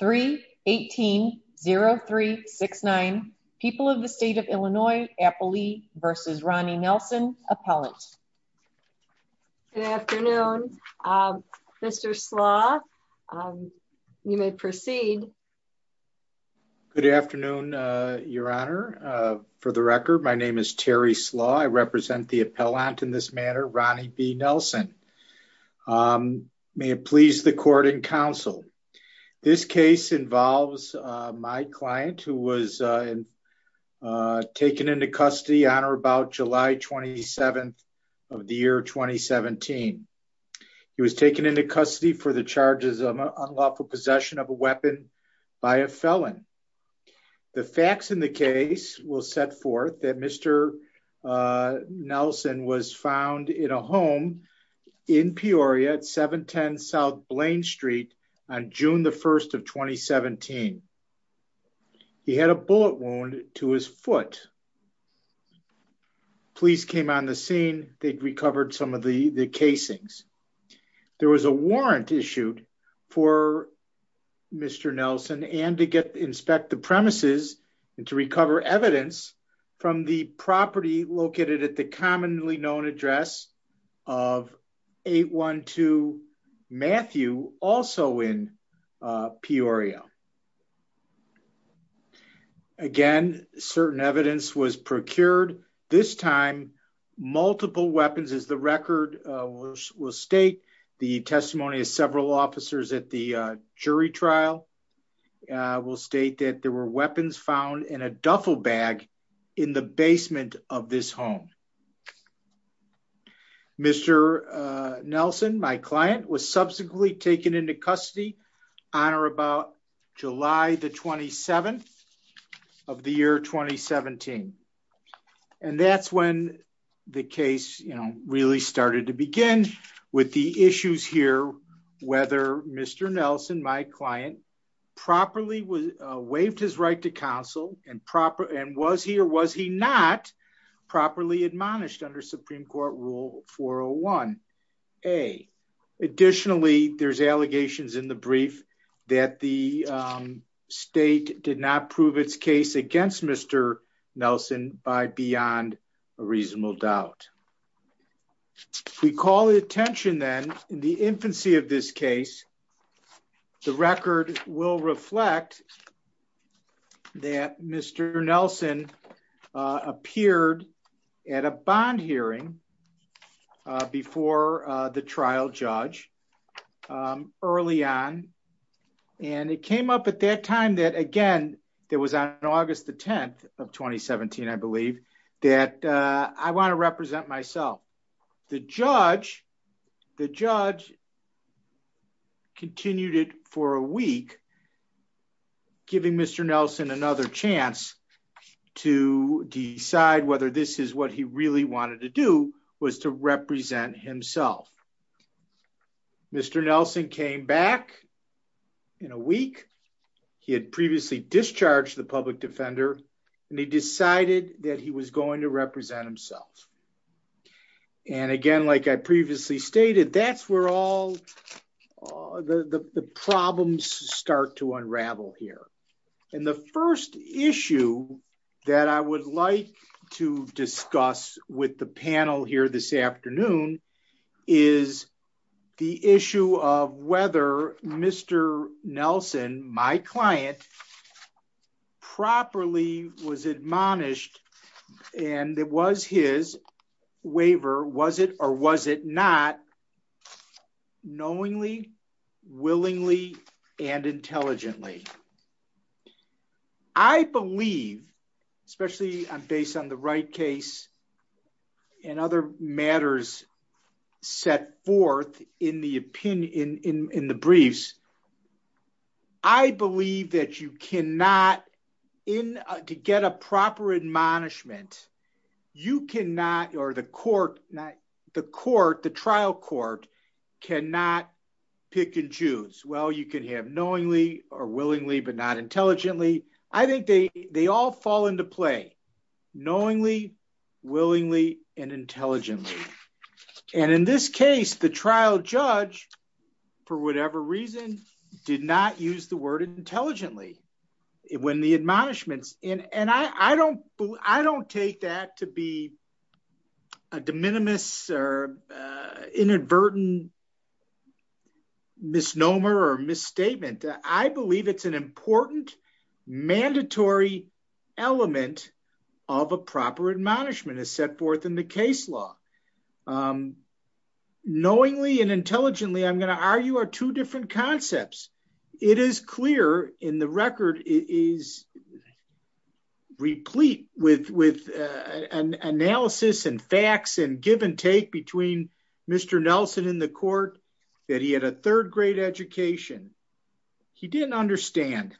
3-18-0369 People of the State of Illinois, Applee v. Ronnie Nelson, Appellant. Good afternoon. Mr. Slaw, you may proceed. Good afternoon, Your Honor. For the record, my name is Terry Slaw. I represent the appellant in this matter, Ronnie B. Nelson. May it please the court and counsel, this case involves my client who was taken into custody on or about July 27th of the year 2017. He was taken into custody for the charges of unlawful possession of a weapon by a felon. The facts in the case will set forth that Mr. Nelson was found in a home in Peoria at 710 South Blaine Street on June 1st of 2017. He had a bullet wound to his foot. Police came on the scene. They recovered some of the casings. There was a warrant issued for Mr. Nelson and to inspect the premises and to recover evidence from the property located at the commonly known address of 812 Matthew, also in Peoria. Again, certain evidence was procured. This time, multiple weapons as the record will state. The testimony of several officers at the jury trial will state that there were weapons found in a duffel bag in the basement of this home. Mr. Nelson, my client, was subsequently taken into custody on or about July the 27th of the year 2017. And that's when the case really started to begin with the issues here whether Mr. Nelson, my client, properly waived his right to counsel and was he or was he not properly admonished under Supreme Court Rule 401A. Additionally, there's allegations in the brief that the state did not prove its case against Mr. Nelson by beyond a reasonable doubt. We call the attention then in the infancy of this case, the record will reflect that Mr. Nelson appeared at a bond hearing before the trial judge early on. And it came up at that time that again, there was on August the 10th of 2017, I believe, that I want to represent myself. The judge continued it for a week, giving Mr. Nelson another chance to decide whether this is what he really wanted to do was to represent himself. Mr. Nelson came back in a week. He had previously discharged the public defender, and he decided that he was going to represent himself. And again, like I previously stated, that's where all the problems start to unravel here. And the first issue that I would like to discuss with the panel here this afternoon is the issue of whether Mr. Nelson, my client, properly was admonished, and it was his waiver, was it or was it not, knowingly, willingly, and intelligently. I believe, especially based on the Wright case, and other matters set forth in the briefs, I believe that you cannot, to get a proper admonishment, you cannot, or the court, the trial court cannot pick and choose. Well, you can have knowingly or willingly, but not intelligently. I think they all fall into play, knowingly, willingly, and intelligently. And in this case, the trial judge, for whatever reason, did not use the word intelligently when the admonishments, and I don't take that to be a de minimis or inadvertent misnomer or misstatement. I believe it's an important mandatory element of a proper admonishment is set forth in the case law. Knowingly and intelligently, I'm going to argue are two different concepts. It is clear in the record is replete with analysis and facts and give and take between Mr. Nelson in the court that he had a third grade education. He didn't understand.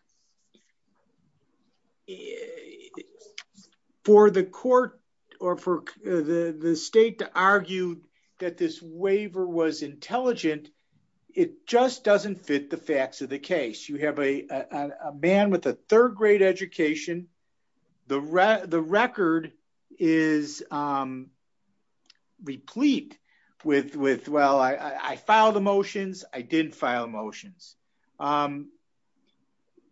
For the court, or for the state to argue that this waiver was intelligent, it just doesn't fit the facts of the case. You have a man with a third grade education. The record is replete with, well, I filed the motions, I didn't file motions.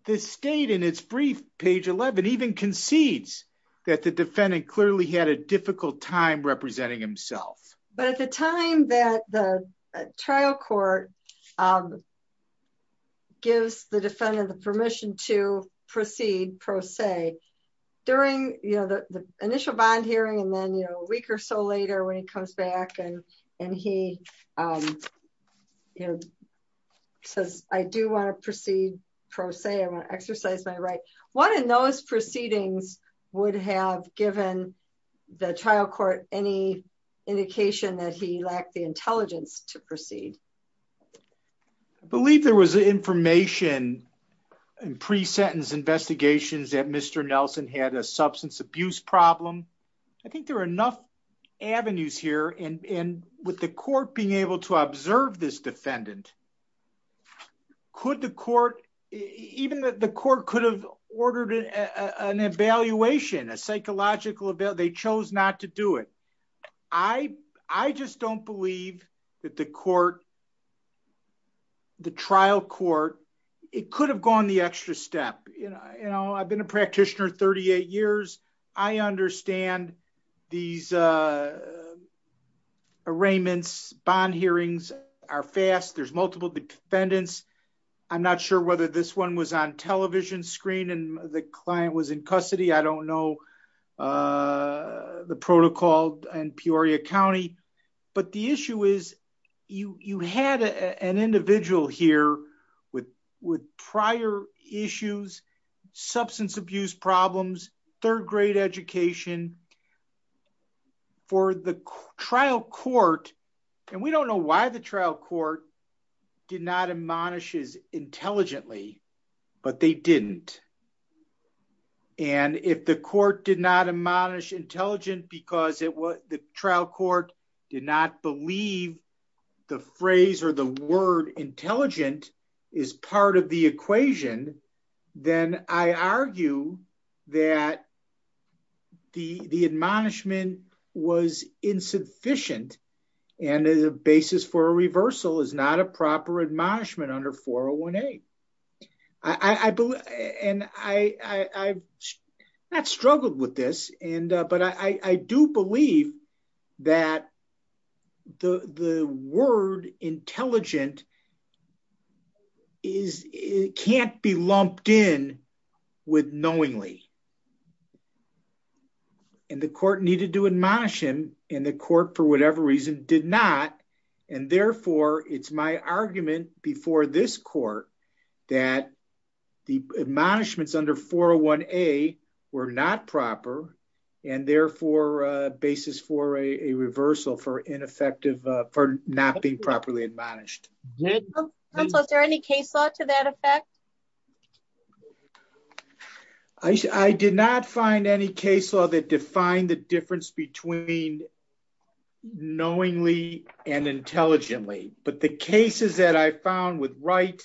The state in its brief, page 11, even concedes that the defendant clearly had a difficult time representing himself. But at the time that the trial court gives the defendant the permission to proceed pro se, during the initial bond hearing and then a week or so later when he comes back and he says, I do want to proceed pro se, I want to exercise my right. One of those proceedings would have given the trial court any indication that he lacked the intelligence to proceed. I believe there was information in pre-sentence investigations that Mr. Nelson had a substance abuse problem. I think there are enough avenues here and with the court being able to observe this defendant, could the court, even the court could have ordered an evaluation, a psychological evaluation, they chose not to do it. I just don't believe that the trial court, it could have gone the extra step. I've been a practitioner 38 years. I understand these arraignments, bond hearings are fast, there's multiple defendants. I'm not sure whether this one was on television screen and the client was in custody. I don't know the protocol in Peoria County. But the issue is, you had an individual here with prior issues, substance abuse problems, third grade education. For the trial court, and we don't know why the trial court did not admonish intelligently, but they didn't. And if the court did not admonish intelligent because the trial court did not believe the phrase or the word intelligent is part of the equation, then I argue that the admonishment was insufficient and as a basis for a reversal is not a proper admonishment under 401A. And I've not struggled with this, but I do believe that the word intelligent can't be lumped in with knowingly. And the court needed to admonish him in the court for whatever reason did not. And therefore, it's my argument before this court, that the admonishments under 401A were not proper, and therefore, basis for a reversal for ineffective for not being properly admonished. Is there any case law to that effect? I did not find any case law that defined the difference between knowingly and intelligently, but the cases that I found with Wright,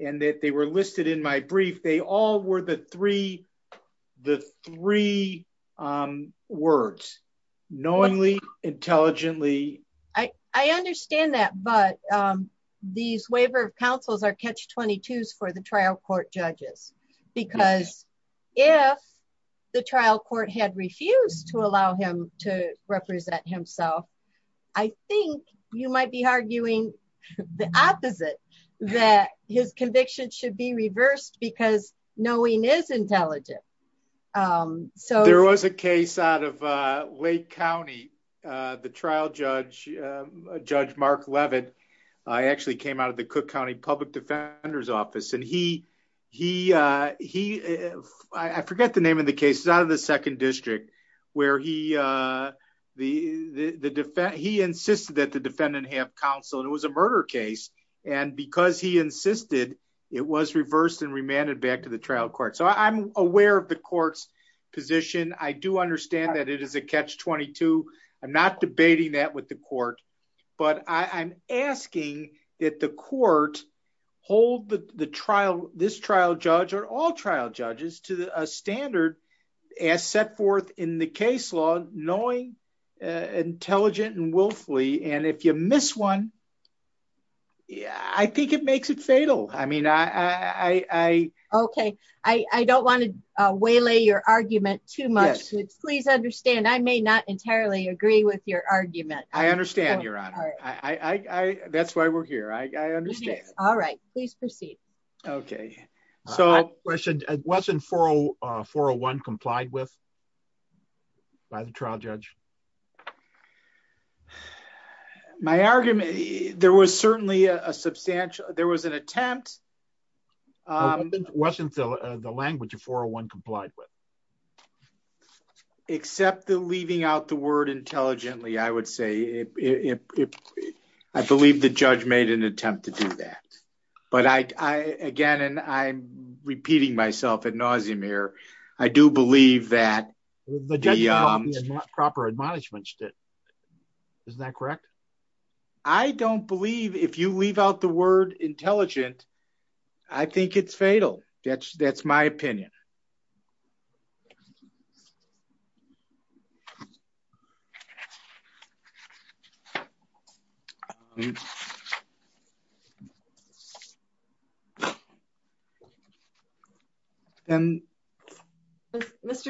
and that they were listed in my brief, they all were the three, the three words, knowingly, intelligently. I understand that, but these waiver of counsels are catch-22s for the trial court judges, because if the trial court had refused to allow him to represent himself, I think you might be arguing the opposite, that his conviction should be reversed because knowing is intelligent. There was a case out of Lake County, the trial judge, Judge Mark Leavitt, actually came out of the Cook County Public Defender's Office, and he, I forget the name of the case, it's out of the Second District, where he insisted that the defendant have counsel, and it was a murder case, and because he insisted, it was reversed and remanded back to the trial court. So that's part of the court's position. I do understand that it is a catch-22. I'm not debating that with the court, but I'm asking that the court hold this trial judge or all trial judges to a standard as set forth in the case law, knowing, intelligent, and willfully, and if you miss one, I think it makes it fatal. Okay. I don't want to waylay your argument too much. Please understand, I may not entirely agree with your argument. I understand, Your Honor. That's why we're here. I understand. All right. Please proceed. Okay. So, question, wasn't 401 complied with by the trial judge? My argument, there was certainly a substantial, there was an attempt. Wasn't the language of 401 complied with? Except the leaving out the word intelligently, I would say. I believe the judge made an attempt to do that. But I, again, and I'm repeating myself ad nauseum here, I do believe that the proper admonishment, isn't that correct? I don't believe if you leave out the word intelligent, I think it's fatal. That's my opinion. Mr.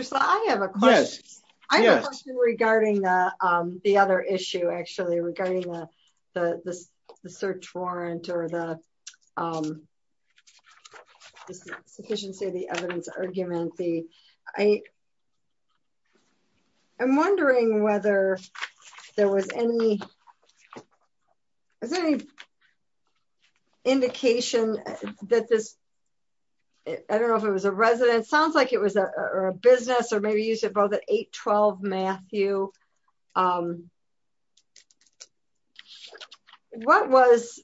Slott, I have a question. I have a question regarding the other issue, actually, regarding the search warrant or the sufficiency of the evidence argument. I'm wondering whether there was any indication that this, I don't know if it was a resident, sounds like it was a business or maybe you said about the 812 Matthew. What was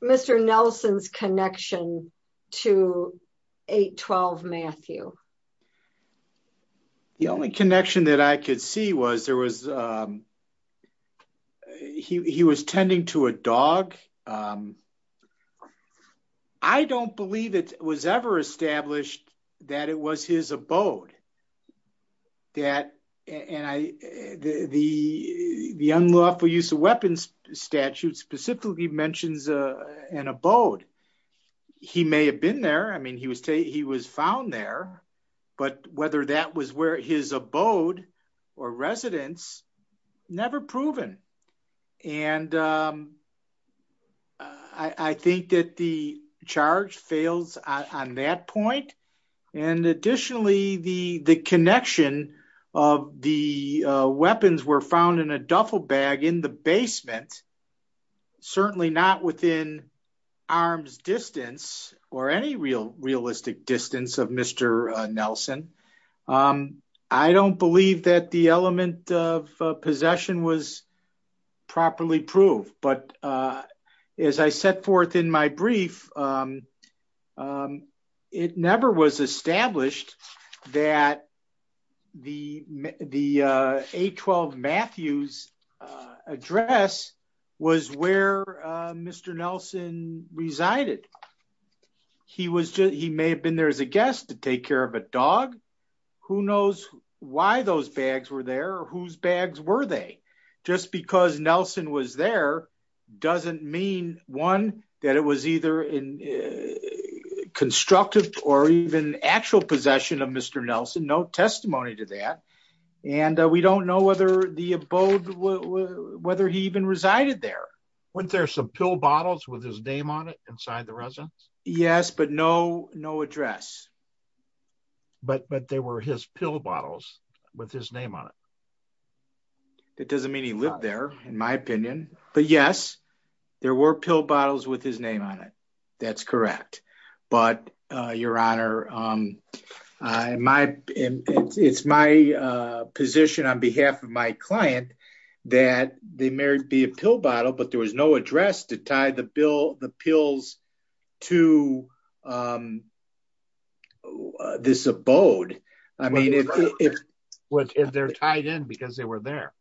Mr. Nelson's connection to 812 Matthew? The only connection that I could see was there was, he was tending to a dog. I don't believe it was ever established that it was his abode. The unlawful use of weapons statute specifically mentions an abode. He may have been there. I mean, he was found there, but whether that was where his abode or residence, never proven. And I think that the charge fails on that point. And additionally, the connection of the weapons were found in a duffel bag in the basement, certainly not within arms distance or any real realistic distance of Mr. Nelson. I don't believe that the element of possession was properly proved, but as I set forth in my brief, it never was established that the 812 Matthews address was where Mr. Nelson resided. He may have been there as a guest to take care of a dog. Who knows why those bags were there? Whose bags were they? Just because Nelson was there doesn't mean one, that it was either in constructive or even actual possession of Mr. Nelson, no testimony to that. And we don't know whether the abode, whether he even resided there. Wasn't there some pill bottles with his name on it inside the residence? Yes, but no, no address. But, but they were his pill bottles with his name on it. That doesn't mean he lived there, in my opinion. But yes, there were pill bottles with his name on it. That's correct. But, Your Honor, it's my position on behalf of my client that they may be a pill bottle, but there was no address to tie the pills to this abode. I mean, if they're tied in because they were there.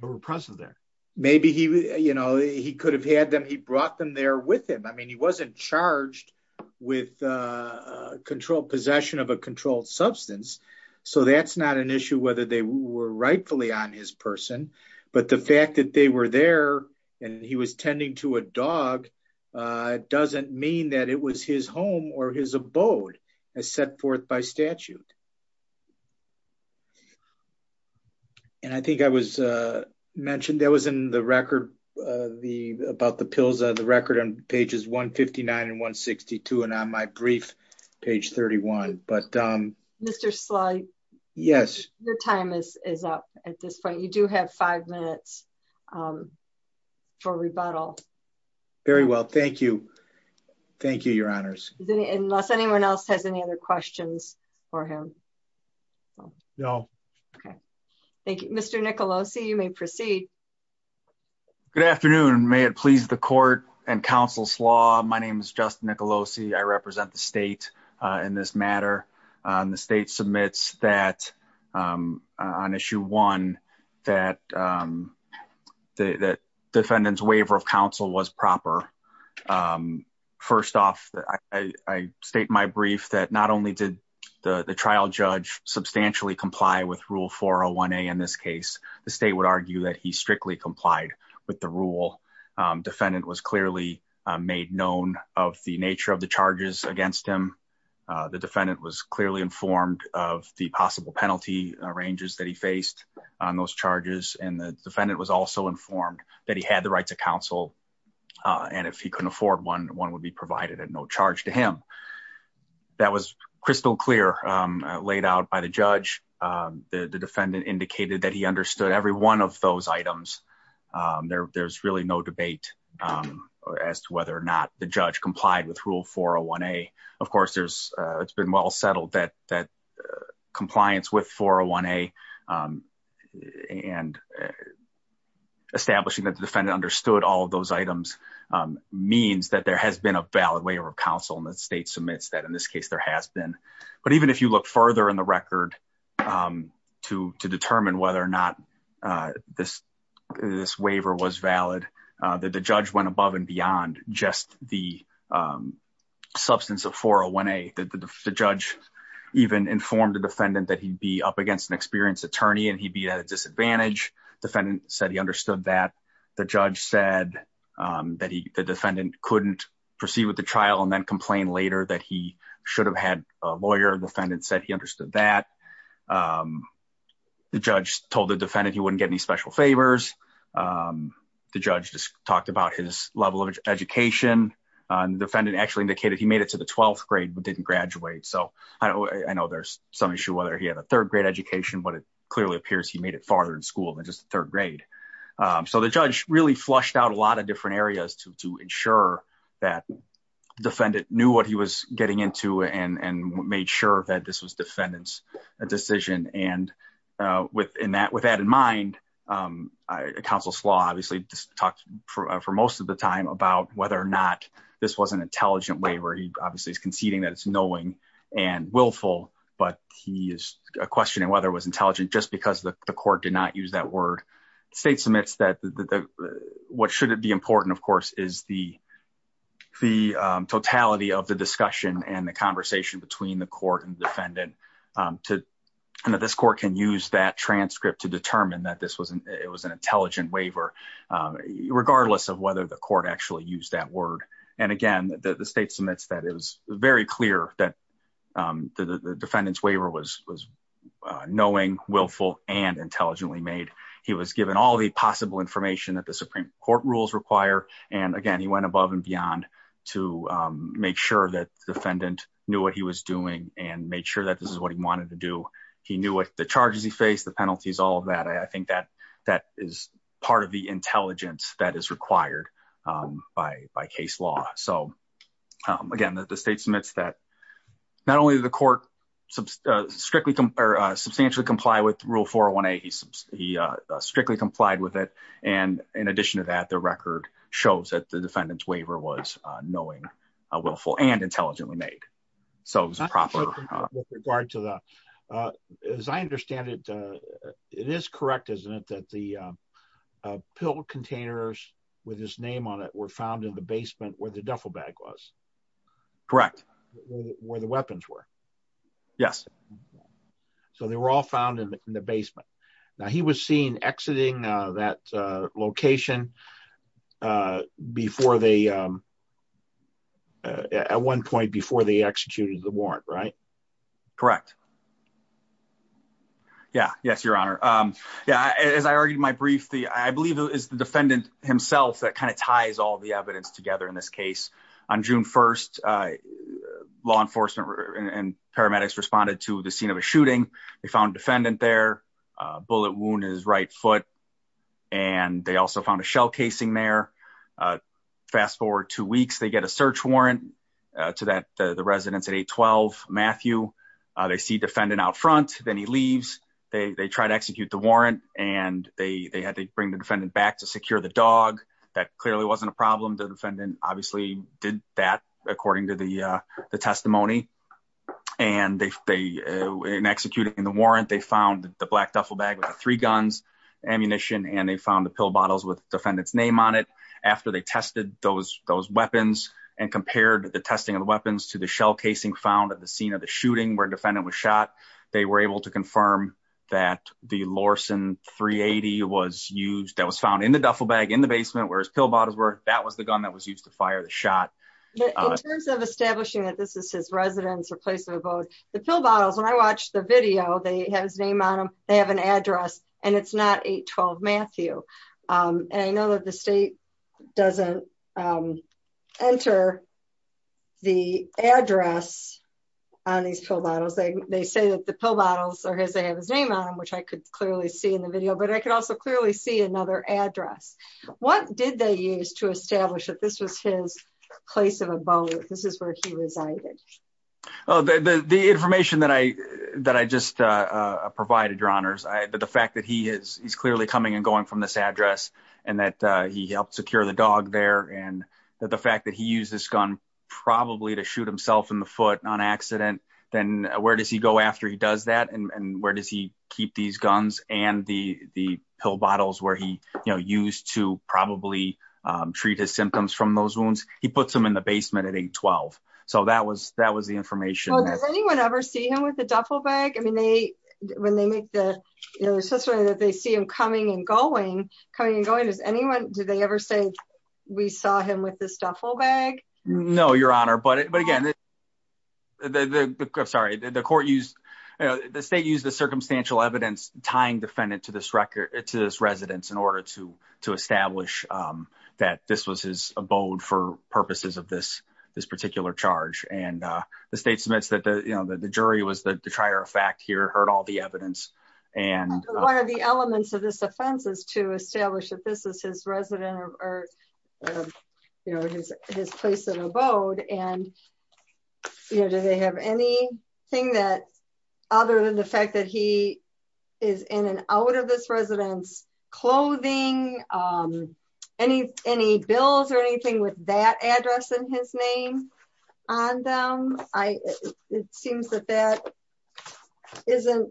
They were present there. Maybe he, you know, he could have had them. He brought them there with him. I mean, he wasn't charged with controlled possession of a controlled substance. So that's not an issue whether they were rightfully on his person, but the fact that they were there, and he was tending to a dog doesn't mean that it was his home or his abode as set forth by statute. And I think I was mentioned that was in the record, the about the pills are the record on pages 159 and 162 and on my brief, page 31, but Mr. Sly. Yes, your time is up at this point you do have five minutes for rebuttal. Very well, thank you. Thank you, Your Honors. Unless anyone else has any other questions for him. No. Okay. Thank you, Mr Nicolosi you may proceed. Good afternoon, may it please the court and counsel slaw My name is Justin Nicolosi I represent the state. In this matter, the state submits that on issue one, that the defendants waiver of counsel was proper. First off, I state my brief that not only did the trial judge substantially comply with rule 401 a in this case, the state would argue that he strictly complied with the rule defendant was clearly made known of the nature of the charges against him. The defendant was clearly informed of the possible penalty arranges that he faced on those charges and the defendant was also informed that he had the right to counsel. And if he couldn't afford one, one would be provided at no charge to him. That was crystal clear laid out by the judge, the defendant indicated that he understood every one of those items. There's really no debate as to whether or not the judge complied with rule 401 a, of course, there's, it's been well settled that that compliance with 401 a and establishing that the defendant understood all of those items means that there has been a valid waiver of counsel and the state submits that in this case there has been. But even if you look further in the record to, to determine whether or not this, this waiver was valid that the judge went above and beyond just the substance of 401 a that the judge even informed the defendant that he'd be up against an experienced attorney and he'd be at a disadvantage. Defendant said he understood that the judge said that he, the defendant couldn't proceed with the trial and then complain later that he should have had a lawyer defendant said he understood that the judge told the defendant he wouldn't get any special favors. The judge just talked about his level of education and defendant actually indicated he made it to the 12th grade but didn't graduate so I know there's some issue whether he had a third grade education but it clearly appears he made it farther in school than just third grade. So the judge really flushed out a lot of different areas to ensure that defendant knew what he was getting into and and made sure that this was defendants, a decision and within that with that in mind. Counsel's law obviously talked for most of the time about whether or not this was an intelligent way where he obviously is conceding that it's knowing and willful, but he is questioning whether it was intelligent just because the court did not use that word. State submits that the what should it be important of course is the, the totality of the discussion and the conversation between the court and defendant to know this court can use that transcript to determine that this wasn't it was an intelligent waiver, regardless of whether the court actually use that word. And again, the state submits that it was very clear that the defendants waiver was was knowing willful and intelligently made. He was given all the possible information that the Supreme Court rules require, and again he went above and beyond to make sure that defendant knew what he was doing and made sure that this is what he wanted to do. He knew what the charges he faced the penalties, all of that I think that that is part of the intelligence that is required by by case law. So, again, the state submits that not only the court, strictly compared substantially comply with rule for when a he strictly complied with it. And in addition to that the record shows that the defendants waiver was knowing a willful and intelligently made. So it was a proper regard to that, as I understand it. It is correct isn't it that the pill containers with his name on it were found in the basement where the duffel bag was correct, where the weapons were. Yes. So they were all found in the basement. Now he was seen exiting that location. Before they at one point before they executed the warrant right. Correct. Yeah, yes, Your Honor. Yeah, as I argued my brief the I believe is the defendant himself that kind of ties all the evidence together in this case on June 1 law enforcement and paramedics responded to the scene of a shooting. They found defendant their bullet wound is right foot. And they also found a shell casing there. Fast forward two weeks they get a search warrant to that the residents at 812 Matthew. They see defendant out front, then he leaves, they try to execute the warrant, and they had to bring the defendant back to secure the dog that clearly wasn't a problem the defendant, obviously, did that, according to the testimony. And they in executing the warrant they found the black duffel bag with three guns ammunition and they found the pill bottles with defendants name on it. After they tested those those weapons and compared the testing of weapons to the shell casing found at the scene of the shooting where defendant was shot. They were able to confirm that the Lawson 380 was used that was found in the duffel bag in the basement where his pill bottles were, that was the gun that was used to fire the shot. In terms of establishing that this is his residence or place of vote, the pill bottles when I watched the video they have his name on them, they have an address, and it's not 812 Matthew. And I know that the state doesn't enter the address on these pill bottles they say that the pill bottles are his they have his name on them which I could clearly see in the video but I could also clearly see another address. What did they use to establish that this was his place of abode, this is where he resided. The information that I that I just provided your honors I but the fact that he is he's clearly coming and going from this address, and that he helped secure the dog there and that the fact that he used this gun, probably to shoot himself in the foot on accident, then where does he go after he does that and where does he keep these guns and the the pill bottles where he, you know, used to probably treat his symptoms from those wounds, he puts them in the basement at 812. So that was that was the information. Anyone ever see him with a duffel bag I mean they when they make the accessory that they see him coming and going, coming and going is anyone, did they ever say, we saw him with this duffel bag. No, Your Honor, but but again, the, sorry, the court used the state use the circumstantial evidence tying defendant to this record to this residence in order to to establish that this was his abode for purposes of this, this particular charge and the state jury was the trier of fact here heard all the evidence, and one of the elements of this offense is to establish that this is his resident or his place of abode and you know do they have any thing that, other than the fact that he is in and out of this residence clothing. Any, any bills or anything with that address and his name on them. I, it seems that that isn't.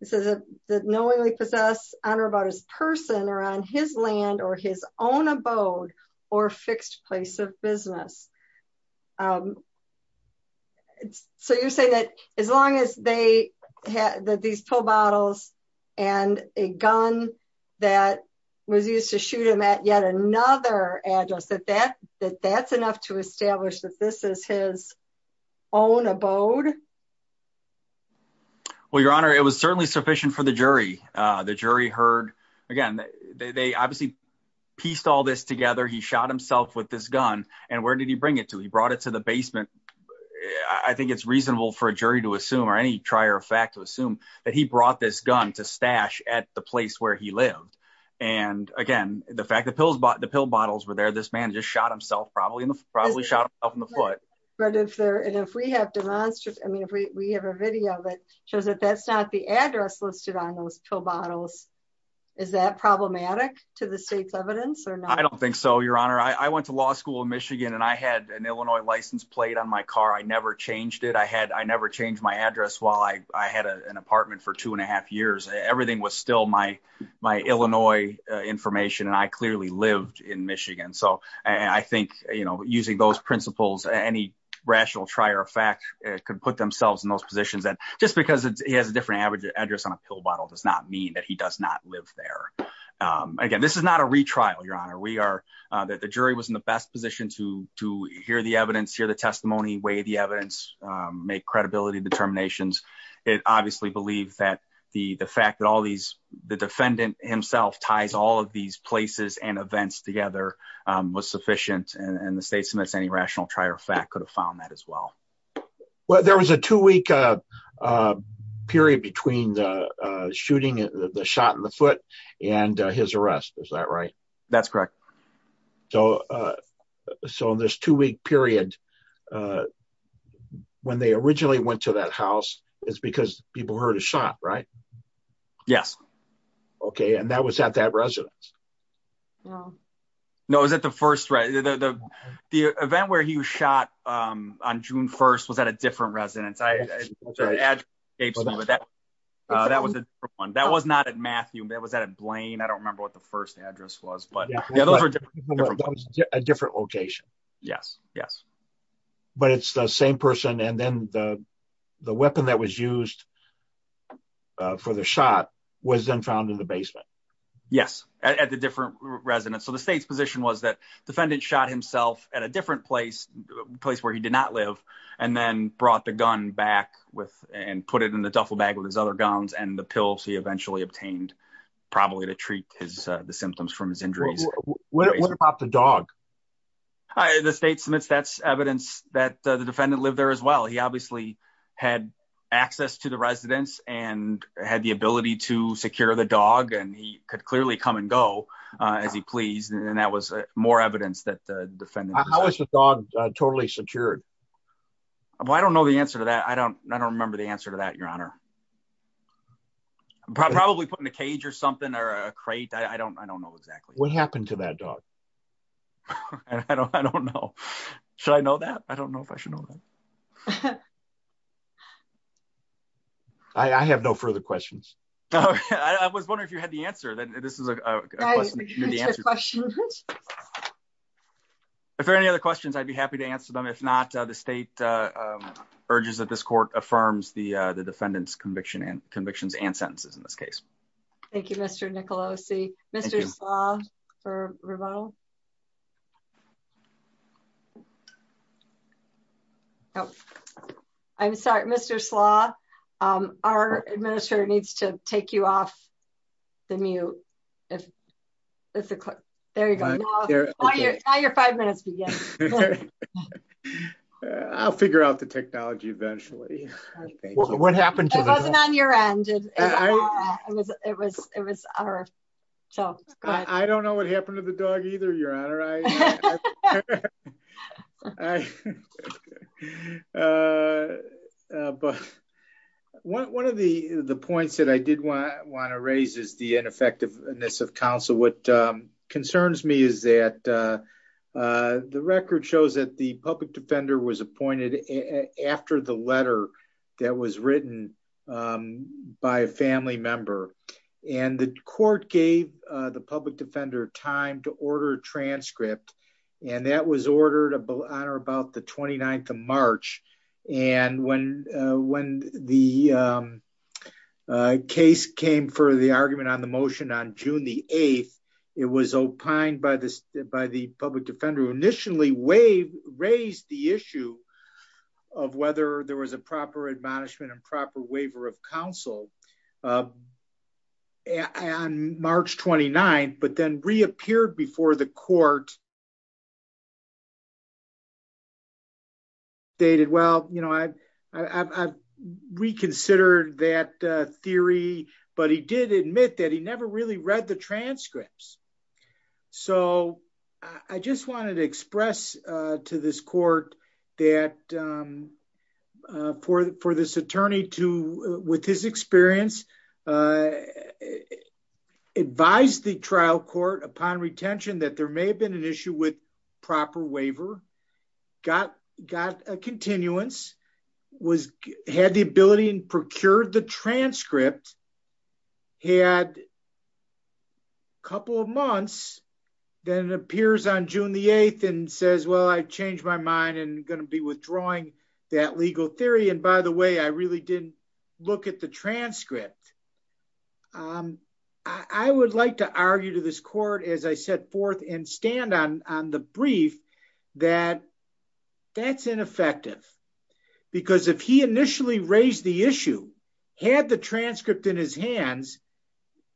This is a knowingly possess honor about his person or on his land or his own abode or fixed place of business. So you say that, as long as they had that these pill bottles, and a gun that was used to shoot him at yet another address that that that that's enough to establish that this is his own abode. Well, Your Honor, it was certainly sufficient for the jury. The jury heard. Again, they obviously pieced all this together he shot himself with this gun, and where did he bring it to he brought it to the basement. I think it's reasonable for a jury to assume or any trier of fact to assume that he brought this gun to stash at the place where he lived. And again, the fact that pills bought the pill bottles were there this man just shot himself probably in the probably shot up in the foot, but if there and if we have demonstrated I mean if we have a video that shows that that's not the address listed on those two bottles. Is that problematic to the state's evidence or not I don't think so Your Honor I went to law school in Michigan and I had an Illinois license plate on my car I never changed it I had I never changed my address while I had an apartment for two and a half years, everything was still my, my Illinois information and I clearly lived in Michigan so I think, you know, using those principles any rational trier of fact, could put themselves in those positions and just because it has a different average address on a pill bottle does not mean that he does not live there. So, so in this two week period when they originally went to that house is because people heard a shot right. Yes. Okay, and that was at that residence. No, is that the first right the event where he was shot on June 1 was at a different residence I gave me but that that was one that was not at Matthew that was that a blame I don't remember what the first address was but a different location. Yes, yes. But it's the same person and then the, the weapon that was used for the shot was then found in the basement. Yes, at the different residents so the state's position was that defendant shot himself at a different place, place where he did not live, and then brought the gun back with and put it in the duffel bag with his other guns and the pills he eventually obtained, probably to treat his symptoms from his injuries. What about the dog. The state submits that's evidence that the defendant live there as well he obviously had access to the residents and had the ability to secure the dog and he could clearly come and go, as he pleased and that was more evidence that the defendant. Totally secured. I don't know the answer to that I don't, I don't remember the answer to that your honor. Probably put in a cage or something or a crate I don't I don't know exactly what happened to that dog. I don't I don't know. Should I know that I don't know if I should know that I have no further questions. I was wondering if you had the answer that this is a question. If there any other questions I'd be happy to answer them if not, the state urges that this court affirms the, the defendants conviction and convictions and sentences in this case. Thank you, Mr. Nicolosi, Mr. For rebuttal. I'm sorry, Mr slaw. Our administrator needs to take you off the mute. If it's a click. There you go. Your five minutes. I'll figure out the technology eventually. What happened to your engine. It was, it was our. So, I don't know what happened to the dog either your honor. But one of the, the points that I did want to raise is the ineffectiveness of counsel what concerns me is that the record shows that the public defender was appointed. After the letter that was written by a family member, and the court gave the public defender time to order transcript. And that was ordered a bill honor about the 29th of March, and when, when the case came for the argument on the motion on June It was opined by this by the public defender initially wave raised the issue of whether there was a proper admonishment and proper waiver of counsel. And March 29, but then reappeared before the court. They did well, you know, I, I reconsidered that theory, but he did admit that he never really read the transcripts. So, I just wanted to express to this court that for this attorney to, with his experience, advised the trial court upon retention that there may have been an issue with proper waiver got got a continuance was had the ability and procured the transcript. He had a couple of months, then it appears on June the eighth and says, well, I changed my mind and going to be withdrawing that legal theory. And by the way, I really didn't look at the transcript. I would like to argue to this court, as I set forth and stand on on the brief that that's ineffective, because if he initially raised the issue had the transcript in his hands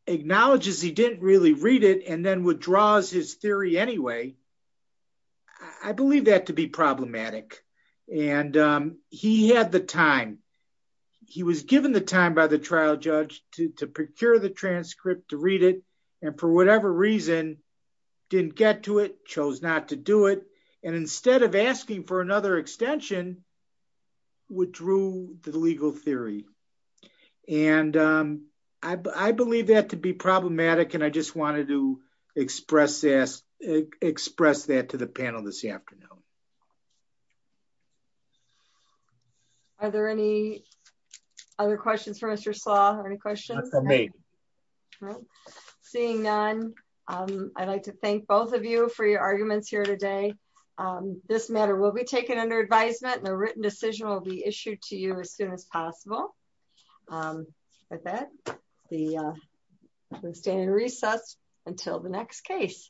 acknowledges he didn't really read it and then withdraws his theory anyway. I believe that to be problematic. And he had the time. He was given the time by the trial judge to procure the transcript to read it. And for whatever reason, didn't get to it chose not to do it. And instead of asking for another extension withdrew the legal theory. And I believe that to be problematic and I just wanted to express this express that to the panel this afternoon. Are there any other questions for Mr saw any questions for me. Seeing none. I'd like to thank both of you for your arguments here today. This matter will be taken under advisement and a written decision will be issued to you as soon as possible. With that, the standard recess until the next case.